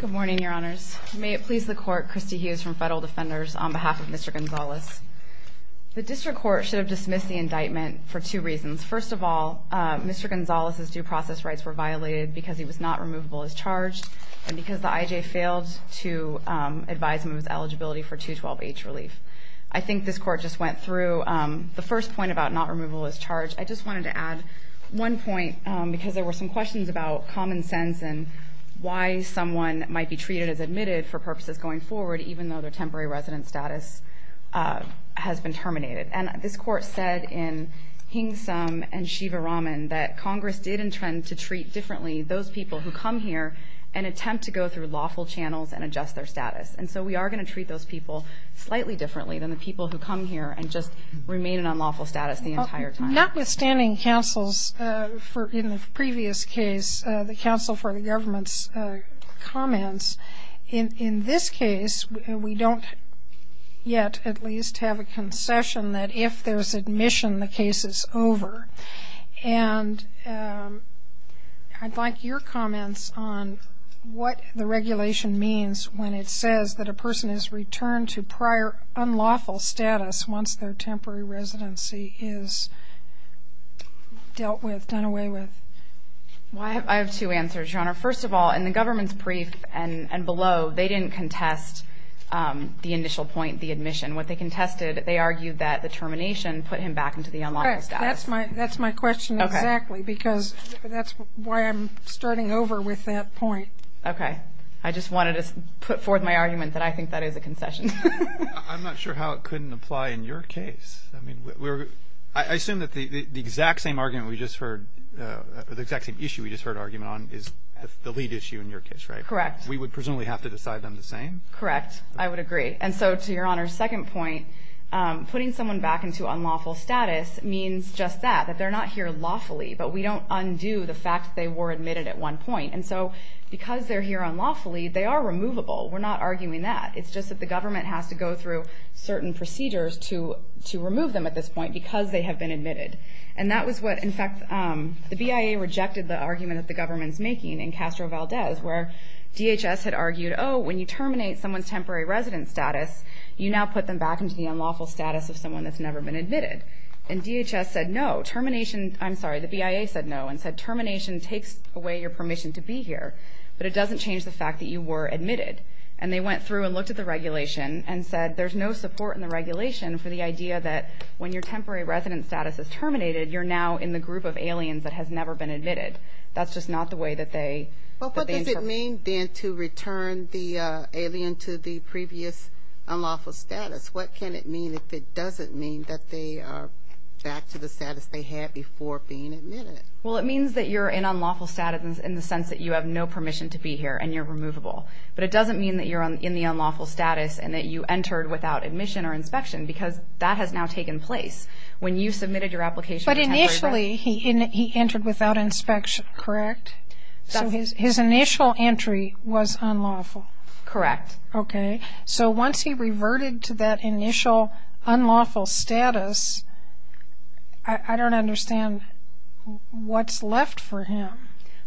Good morning, Your Honors. May it please the Court, Christy Hughes from Federal Defenders on behalf of Mr. Gonzalez. The District Court should have dismissed the indictment for two reasons. First of all, Mr. Gonzalez's due process rights were violated because he was not removable as charged and because the IJ failed to advise him of his eligibility for 212H relief. I think this Court just went through the first point about not removable as charged. I just wanted to add one point because there were some questions about common sense and why someone might be treated as admitted for purposes going forward even though their temporary resident status has been terminated. And this Court said in Hingsum and Shivaraman that Congress did intend to treat differently those people who come here and attempt to go through lawful channels and adjust their status. And so we are going to treat those people slightly differently than the people who come here and just remain in unlawful status the entire time. Notwithstanding counsel's, in the previous case, the counsel for the government's comments, in this case we don't yet at least have a concession that if there's admission the case is over. And I'd like your comments on what the regulation means when it says that a person is returned to prior unlawful status once their temporary residency is dealt with, done away with. I have two answers, Your Honor. First of all, in the government's brief and below, they didn't contest the initial point, the admission. What they contested, they argued that the termination put him back into the unlawful status. That's my question exactly because that's why I'm starting over with that point. Okay. I just wanted to put forth my argument that I think that is a concession. I'm not sure how it couldn't apply in your case. I assume that the exact same argument we just heard, the exact same issue we just heard argument on is the lead issue in your case, right? Correct. We would presumably have to decide them the same? Correct. I would agree. And so to Your Honor's second point, putting someone back into unlawful status means just that, that they're not here at one point. And so because they're here unlawfully, they are removable. We're not arguing that. It's just that the government has to go through certain procedures to remove them at this point because they have been admitted. And that was what, in fact, the BIA rejected the argument that the government's making in Castro Valdez where DHS had argued, oh, when you terminate someone's temporary resident status, you now put them back into the unlawful status of someone that's never been admitted. And DHS said no. Termination, I'm sorry, the BIA said no and said termination takes away your permission to be here, but it doesn't change the fact that you were admitted. And they went through and looked at the regulation and said there's no support in the regulation for the idea that when your temporary resident status is terminated, you're now in the group of aliens that has never been admitted. That's just not the way that they. Well, what does it mean then to return the alien to the previous unlawful status? What can it mean if it doesn't mean that they are back to the status they had before being admitted? Well, it means that you're in unlawful status in the sense that you have no permission to be here and you're removable. But it doesn't mean that you're in the unlawful status and that you entered without admission or inspection because that has now taken place. When you submitted your application. But initially he entered without inspection, correct? So his initial entry was unlawful. Correct. Okay. So once he reverted to that initial unlawful status, I don't understand what's left for him.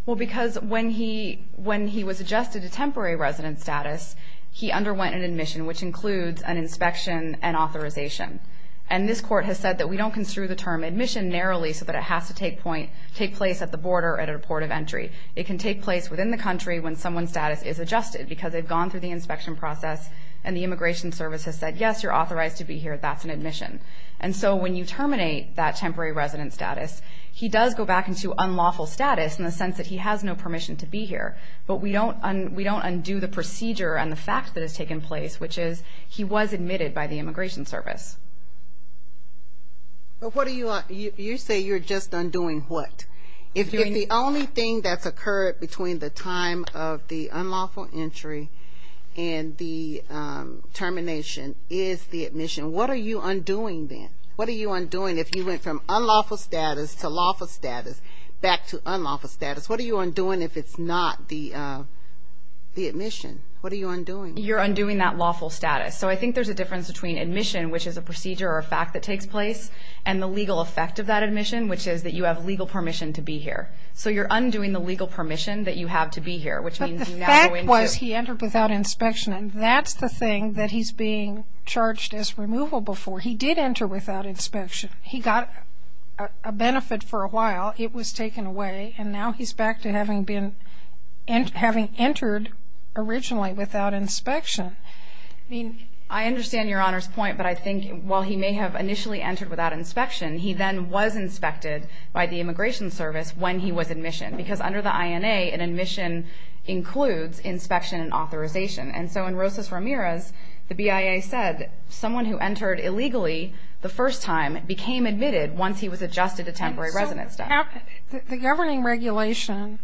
Well, because when he was adjusted to temporary resident status, he underwent an admission, which includes an inspection and authorization. And this court has said that we don't construe the term admission narrowly so that it has to take place at the border at a port of entry. It can take place within the country when someone's status is adjusted because they've gone through the inspection process and the Immigration Service has said, yes, you're authorized to be here. That's an admission. And so when you terminate that temporary resident status, he does go back into unlawful status in the sense that he has no permission to be here. But we don't undo the procedure and the fact that has taken place, which is he was admitted by the Immigration Service. But what do you say you're just undoing what? If the only thing that's occurred between the time of the unlawful entry and the termination is the admission, what are you undoing then? What are you undoing if you went from unlawful status to lawful status back to unlawful status? What are you undoing if it's not the admission? What are you undoing? You're undoing that lawful status. So I think there's a difference between admission, which is a procedure or a fact that takes place, and the legal effect of that admission, which is that you have legal permission to be here. So you're undoing the legal permission that you have to be here, which means you now go into – But the fact was he entered without inspection, and that's the thing that he's being charged as removable for. He did enter without inspection. He got a benefit for a while. It was taken away, and now he's back to having been – having entered originally without inspection. I understand Your Honor's point, but I think while he may have initially entered without inspection, he then was inspected by the Immigration Service when he was admissioned, because under the INA, an admission includes inspection and authorization. And so in Rosas-Ramirez, the BIA said someone who entered illegally the first time became admitted once he was adjusted to temporary residence status. The governing regulation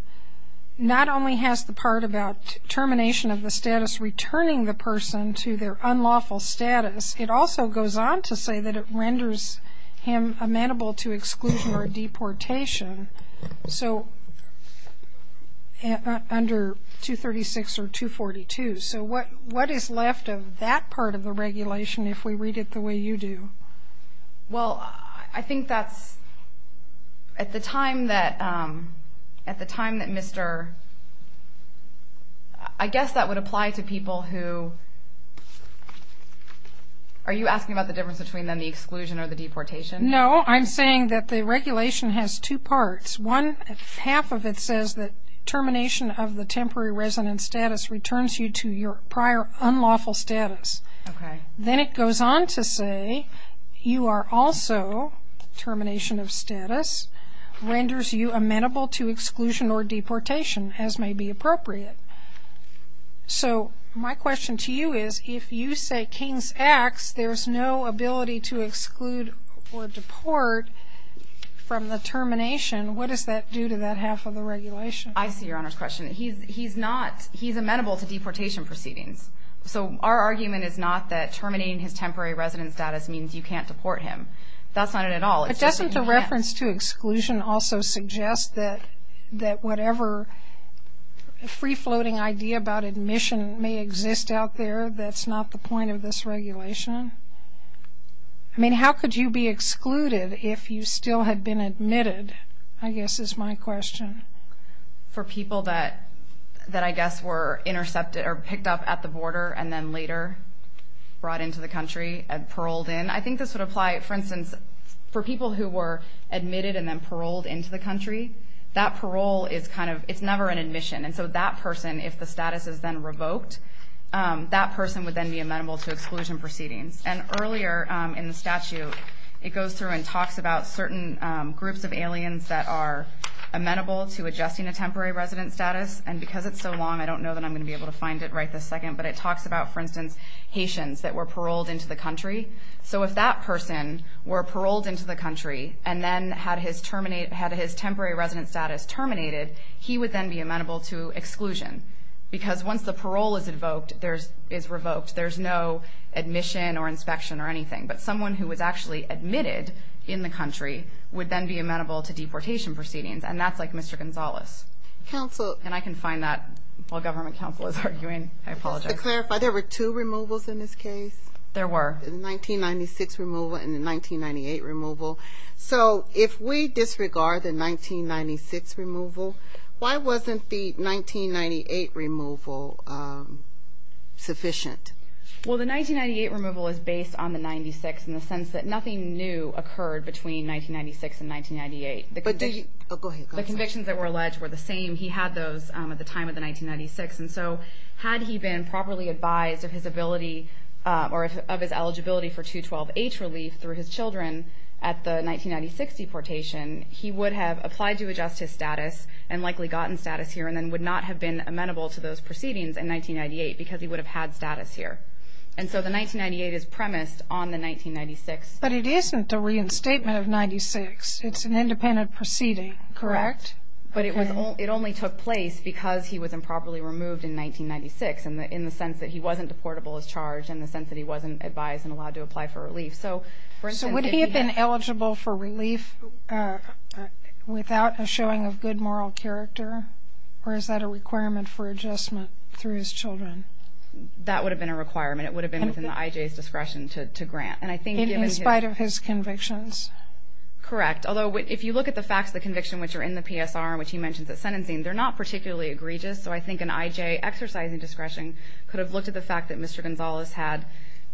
not only has the part about termination of the status, returning the person to their unlawful status, it also goes on to say that it renders him amenable to exclusion or deportation. So under 236 or 242. So what is left of that part of the regulation if we read it the way you do? Well, I think that's – at the time that Mr. – I guess that would apply to people who – are you asking about the difference between then the exclusion or the deportation? No. I'm saying that the regulation has two parts. One, half of it says that termination of the temporary residence status returns you to your prior unlawful status. Okay. Then it goes on to say you are also, termination of status, renders you amenable to exclusion or deportation, as may be appropriate. So my question to you is if you say King's X, there's no ability to exclude or deport from the termination, what does that do to that half of the regulation? I see Your Honor's question. He's not – he's amenable to deportation proceedings. So our argument is not that terminating his temporary residence status means you can't deport him. That's not it at all. Doesn't the reference to exclusion also suggest that whatever free-floating idea about admission may exist out there that's not the point of this regulation? I mean, how could you be excluded if you still had been admitted, I guess, is my question. For people that I guess were intercepted or picked up at the border and then later brought into the country and paroled in, I think this would apply, for instance, for people who were admitted and then paroled into the country, that parole is kind of – it's never an admission. And so that person, if the status is then revoked, that person would then be amenable to exclusion proceedings. And earlier in the statute it goes through and talks about certain groups of aliens that are amenable to adjusting a temporary residence status. And because it's so long, I don't know that I'm going to be able to find it right this second, but it talks about, for instance, Haitians that were paroled into the country. So if that person were paroled into the country and then had his temporary residence status terminated, he would then be amenable to exclusion because once the parole is revoked, there's no admission or inspection or anything. But someone who was actually admitted in the country would then be amenable to deportation proceedings, and that's like Mr. Gonzalez. And I can find that while government counsel is arguing. I apologize. Just to clarify, there were two removals in this case? There were. The 1996 removal and the 1998 removal. So if we disregard the 1996 removal, why wasn't the 1998 removal sufficient? Well, the 1998 removal is based on the 96 in the sense that nothing new occurred between 1996 and 1998. Go ahead. The convictions that were alleged were the same. He had those at the time of the 1996. And so had he been properly advised of his ability or of his eligibility for 212H relief through his children at the 1996 deportation, he would have applied to adjust his status and likely gotten status here and then would not have been amenable to those proceedings in 1998 because he would have had status here. And so the 1998 is premised on the 1996. But it isn't the reinstatement of 96. It's an independent proceeding, correct? Correct. But it only took place because he was improperly removed in 1996 in the sense that he wasn't deportable as charged in the sense that he wasn't advised and allowed to apply for relief. So would he have been eligible for relief without a showing of good moral character, or is that a requirement for adjustment through his children? That would have been a requirement. It would have been within the IJ's discretion to grant. In spite of his convictions? Correct. Although if you look at the facts of the conviction which are in the PSR and which he mentions at sentencing, they're not particularly egregious. So I think an IJ exercising discretion could have looked at the fact that Mr. Gonzalez had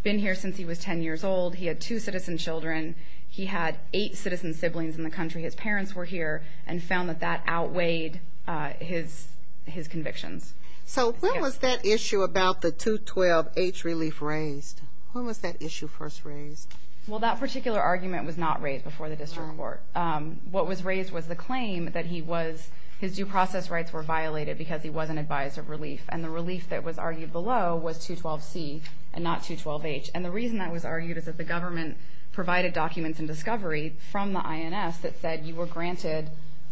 been here since he was 10 years old. He had two citizen children. He had eight citizen siblings in the country. His parents were here and found that that outweighed his convictions. So when was that issue about the 212H relief raised? When was that issue first raised? Well, that particular argument was not raised before the district court. What was raised was the claim that his due process rights were violated because he wasn't advised of relief, and the relief that was argued below was 212C and not 212H. And the reason that was argued is that the government provided documents and discovery from the INS that said you were granted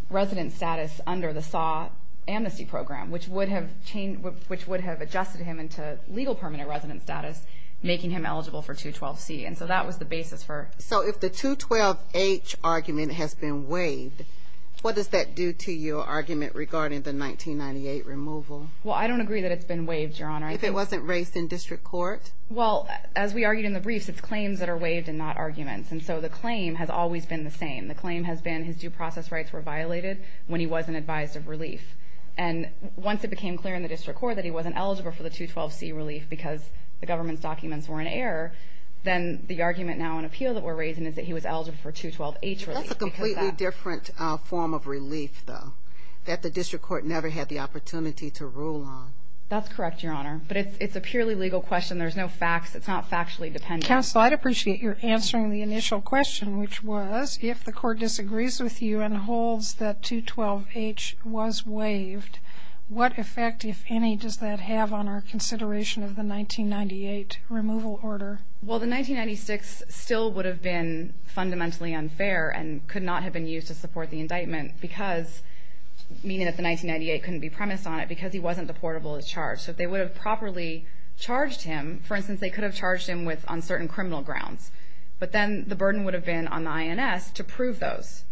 resident status under the SAW amnesty program, which would have adjusted him into legal permanent resident status, making him eligible for 212C. And so that was the basis for it. So if the 212H argument has been waived, what does that do to your argument regarding the 1998 removal? Well, I don't agree that it's been waived, Your Honor. If it wasn't raised in district court? Well, as we argued in the briefs, it's claims that are waived and not arguments. And so the claim has always been the same. The claim has been his due process rights were violated when he wasn't advised of relief. And once it became clear in the district court that he wasn't eligible for the 212C relief because the government's documents were in error, then the argument now in appeal that we're raising is that he was eligible for 212H relief. That's a completely different form of relief, though, that the district court never had the opportunity to rule on. That's correct, Your Honor. But it's a purely legal question. There's no facts. It's not factually dependent. Counsel, I'd appreciate your answering the initial question, which was if the court disagrees with you and holds that 212H was waived, what effect, if any, does that have on our consideration of the 1998 removal order? Well, the 1996 still would have been fundamentally unfair and could not have been used to support the indictment because, meaning that the 1998 couldn't be premised on it, because he wasn't deportable as charged. So if they would have properly charged him, for instance, they could have charged him on certain criminal grounds. But then the burden would have been on the INS to prove those.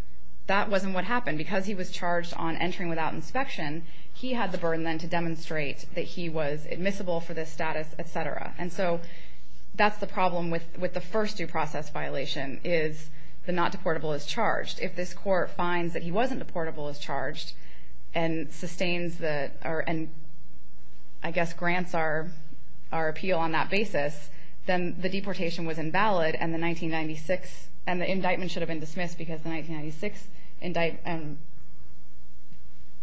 That wasn't what happened. Because he was charged on entering without inspection, he had the burden then to demonstrate that he was admissible for this status, et cetera. And so that's the problem with the first due process violation, is the not deportable as charged. If this court finds that he wasn't deportable as charged and sustains the or I guess grants our appeal on that basis, then the deportation was invalid and the 1996, and the indictment should have been dismissed because the 1996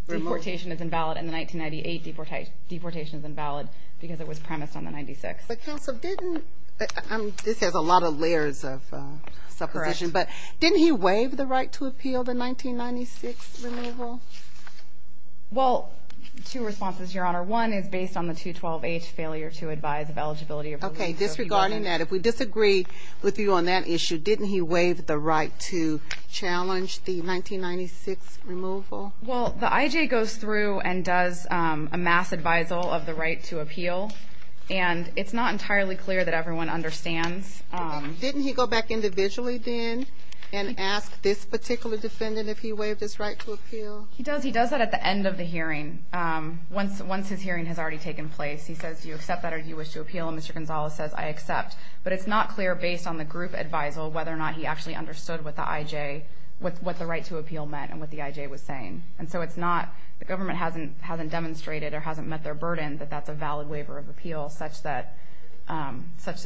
deportation is invalid and the 1998 deportation is invalid because it was premised on the 96. But counsel, didn't, this has a lot of layers of supposition, but didn't he waive the right to appeal the 1996 removal? Well, two responses, Your Honor. One is based on the 212H failure to advise of eligibility. Okay. Disregarding that, if we disagree with you on that issue, didn't he waive the right to challenge the 1996 removal? Well, the IJ goes through and does a mass advisal of the right to appeal, and it's not entirely clear that everyone understands. Didn't he go back individually then and ask this particular defendant if he waived his right to appeal? He does. He does that at the end of the hearing, once his hearing has already taken place. He says, Do you accept that or do you wish to appeal? And Mr. Gonzales says, I accept. But it's not clear based on the group advisal whether or not he actually understood what the IJ, what the right to appeal meant and what the IJ was saying. And so it's not, the government hasn't demonstrated or hasn't met their burden that that's a valid waiver of appeal such that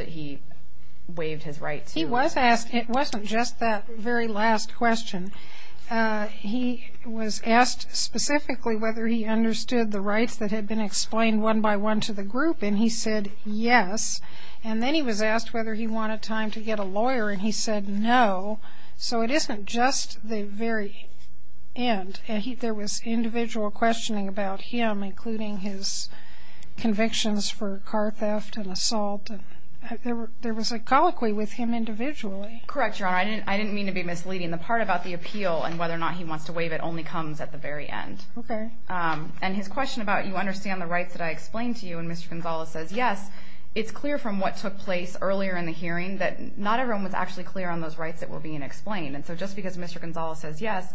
he waived his right to appeal. He was asked, it wasn't just that very last question. He was asked specifically whether he understood the rights that had been explained one by one to the group, and he said yes. And then he was asked whether he wanted time to get a lawyer, and he said no. So it isn't just the very end. There was individual questioning about him, including his convictions for car theft and assault. There was a colloquy with him individually. Correct, Your Honor. I didn't mean to be misleading. The part about the appeal and whether or not he wants to waive it only comes at the very end. Okay. And his question about you understand the rights that I explained to you and Mr. Gonzales says yes, it's clear from what took place earlier in the hearing that not everyone was actually clear on those rights that were being explained. And so just because Mr. Gonzales says yes,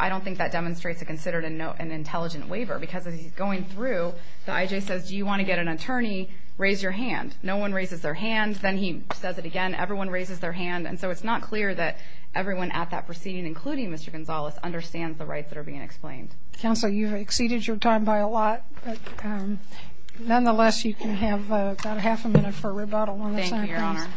I don't think that demonstrates it considered an intelligent waiver because as he's going through, the IJ says, do you want to get an attorney, raise your hand. No one raises their hand. Then he says it again, everyone raises their hand. And so it's not clear that everyone at that proceeding, including Mr. Gonzales, understands the rights that are being explained. Counsel, you've exceeded your time by a lot. Nonetheless, you can have about half a minute for rebuttal on this. Thank you, Your Honor.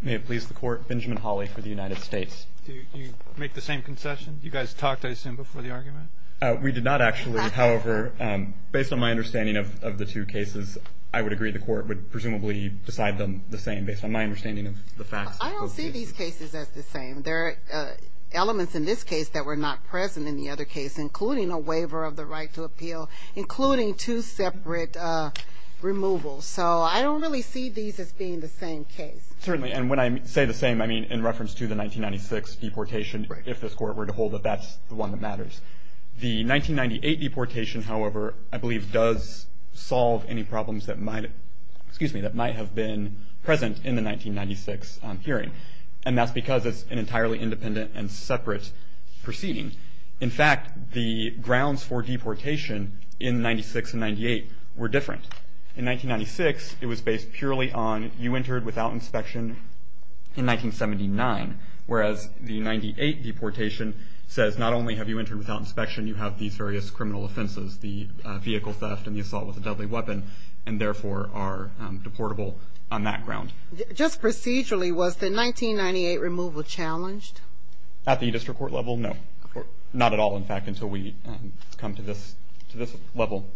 May it please the Court, Benjamin Hawley for the United States. Do you make the same concession? You guys talked, I assume, before the argument? We did not actually. However, based on my understanding of the two cases, I would agree the Court would presumably decide them the same, based on my understanding of the facts. I don't see these cases as the same. There are elements in this case that were not present in the other case, including a waiver of the right to appeal, including two separate removals. So I don't really see these as being the same case. Certainly. And when I say the same, I mean in reference to the 1996 deportation, if this Court were to hold that that's the one that matters. The 1998 deportation, however, I believe does solve any problems that might have been present in the 1996 hearing, and that's because it's an entirely independent and separate proceeding. In fact, the grounds for deportation in 96 and 98 were different. In 1996, it was based purely on you entered without inspection in 1979, whereas the 98 deportation says not only have you entered without inspection, you have these various criminal offenses, the vehicle theft and the assault with a deadly weapon, and therefore are deportable on that ground. Just procedurally, was the 1998 removal challenged? At the district court level, no. Not at all, in fact, until we come to this level.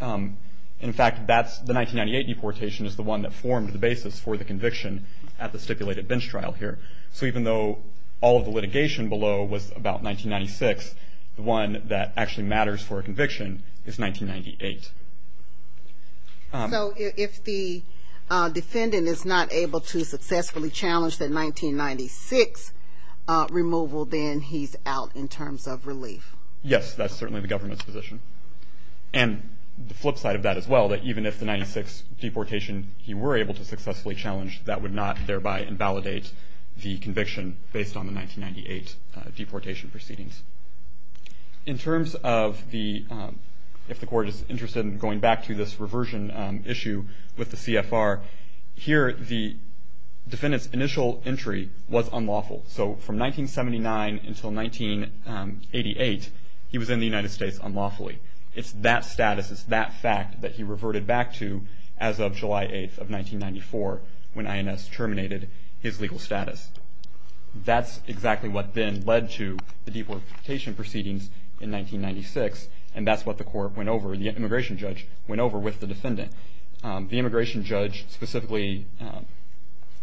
In fact, the 1998 deportation is the one that formed the basis for the conviction at the stipulated bench trial here. So even though all of the litigation below was about 1996, the one that actually matters for a conviction is 1998. So if the defendant is not able to successfully challenge the 1996 removal, then he's out in terms of relief. Yes, that's certainly the government's position. And the flip side of that as well, that even if the 96 deportation he were able to successfully challenge, that would not thereby invalidate the conviction based on the 1998 deportation proceedings. In terms of if the court is interested in going back to this reversion issue with the CFR, here the defendant's initial entry was unlawful. So from 1979 until 1988, he was in the United States unlawfully. It's that status, it's that fact that he reverted back to as of July 8th of 1994 when INS terminated his legal status. That's exactly what then led to the deportation proceedings in 1996, and that's what the court went over, the immigration judge went over with the defendant. The immigration judge specifically,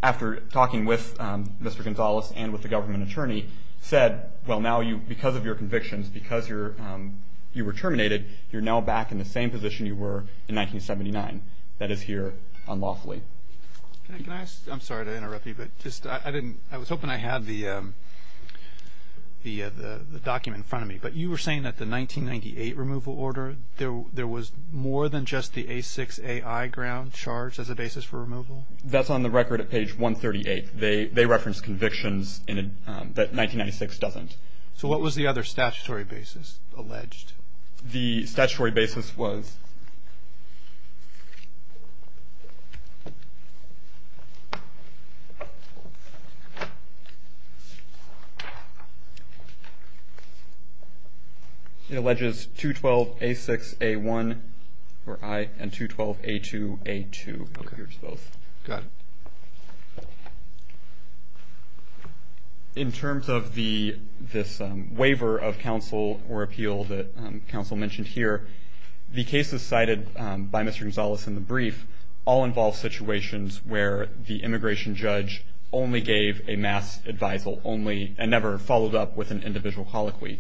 after talking with Mr. Gonzalez and with the government attorney, said, well, now because of your convictions, because you were terminated, you're now back in the same position you were in 1979. That is here unlawfully. I'm sorry to interrupt you, but I was hoping I had the document in front of me, but you were saying that the 1998 removal order, there was more than just the A6AI ground charged as a basis for removal? That's on the record at page 138. They reference convictions that 1996 doesn't. So what was the other statutory basis alleged? The statutory basis was 212A6A1 and 212A2A2. Go ahead. In terms of this waiver of counsel or appeal that counsel mentioned here, the cases cited by Mr. Gonzalez in the brief all involve situations where the immigration judge only gave a mass advisal only and never followed up with an individual colloquy.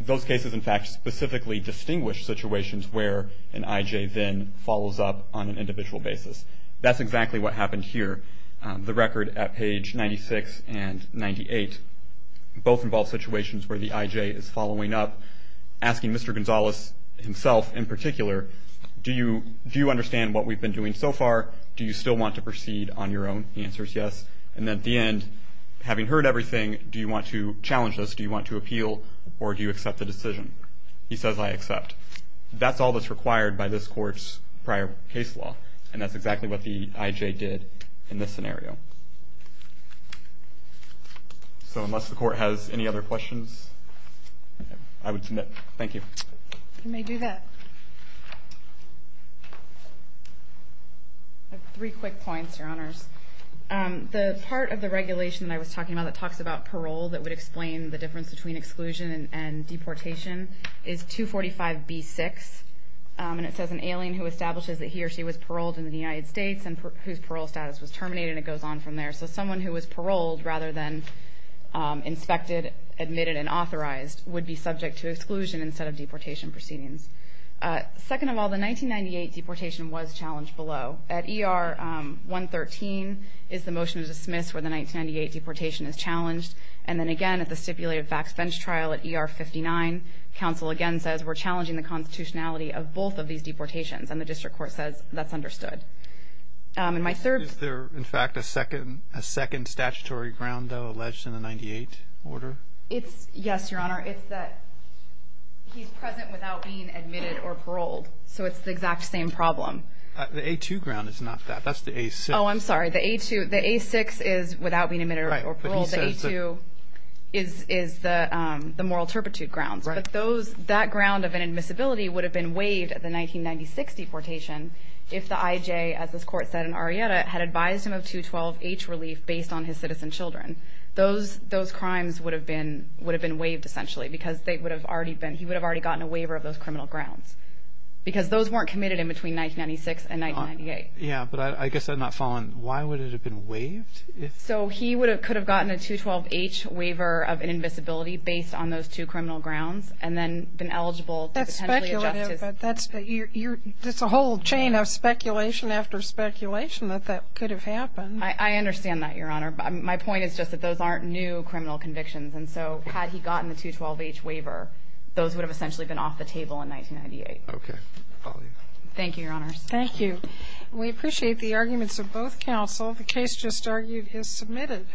Those cases, in fact, specifically distinguish situations where an IJ then follows up on an individual basis. That's exactly what happened here. The record at page 96 and 98 both involve situations where the IJ is following up, asking Mr. Gonzalez himself in particular, do you understand what we've been doing so far? Do you still want to proceed on your own? The answer is yes. And then at the end, having heard everything, do you want to challenge this? Do you want to appeal or do you accept the decision? He says I accept. That's all that's required by this court's prior case law, and that's exactly what the IJ did in this scenario. So unless the court has any other questions, I would submit. Thank you. You may do that. I have three quick points, Your Honors. The part of the regulation that I was talking about that talks about parole that would explain the difference between exclusion and deportation is 245B6, and it says an alien who establishes that he or she was paroled in the United States and whose parole status was terminated, and it goes on from there. So someone who was paroled rather than inspected, admitted, and authorized would be subject to exclusion instead of deportation proceedings. Second of all, the 1998 deportation was challenged below. At ER 113 is the motion to dismiss where the 1998 deportation is challenged, and then again at the stipulated facts bench trial at ER 59, counsel again says we're challenging the constitutionality of both of these deportations, and the district court says that's understood. Is there, in fact, a second statutory ground, though, alleged in the 1998 order? Yes, Your Honor. It's that he's present without being admitted or paroled, so it's the exact same problem. The A2 ground is not that. That's the A6. Oh, I'm sorry. The A6 is without being admitted or paroled. The A2 is the moral turpitude grounds, but that ground of inadmissibility would have been waived at the 1996 deportation if the IJ, as this court said in Arrieta, had advised him of 212H relief based on his citizen children. Those crimes would have been waived essentially because he would have already gotten a waiver of those criminal grounds because those weren't committed in between 1996 and 1998. Yeah, but I guess I'm not following. Why would it have been waived? So he could have gotten a 212H waiver of inadmissibility based on those two criminal grounds and then been eligible to potentially adjust his ---- That's speculative, but that's a whole chain of speculation after speculation that that could have happened. I understand that, Your Honor. My point is just that those aren't new criminal convictions, and so had he gotten the 212H waiver, those would have essentially been off the table in 1998. Okay. Follow you. Thank you, Your Honors. Thank you. We appreciate the arguments of both counsel. The case just argued is submitted.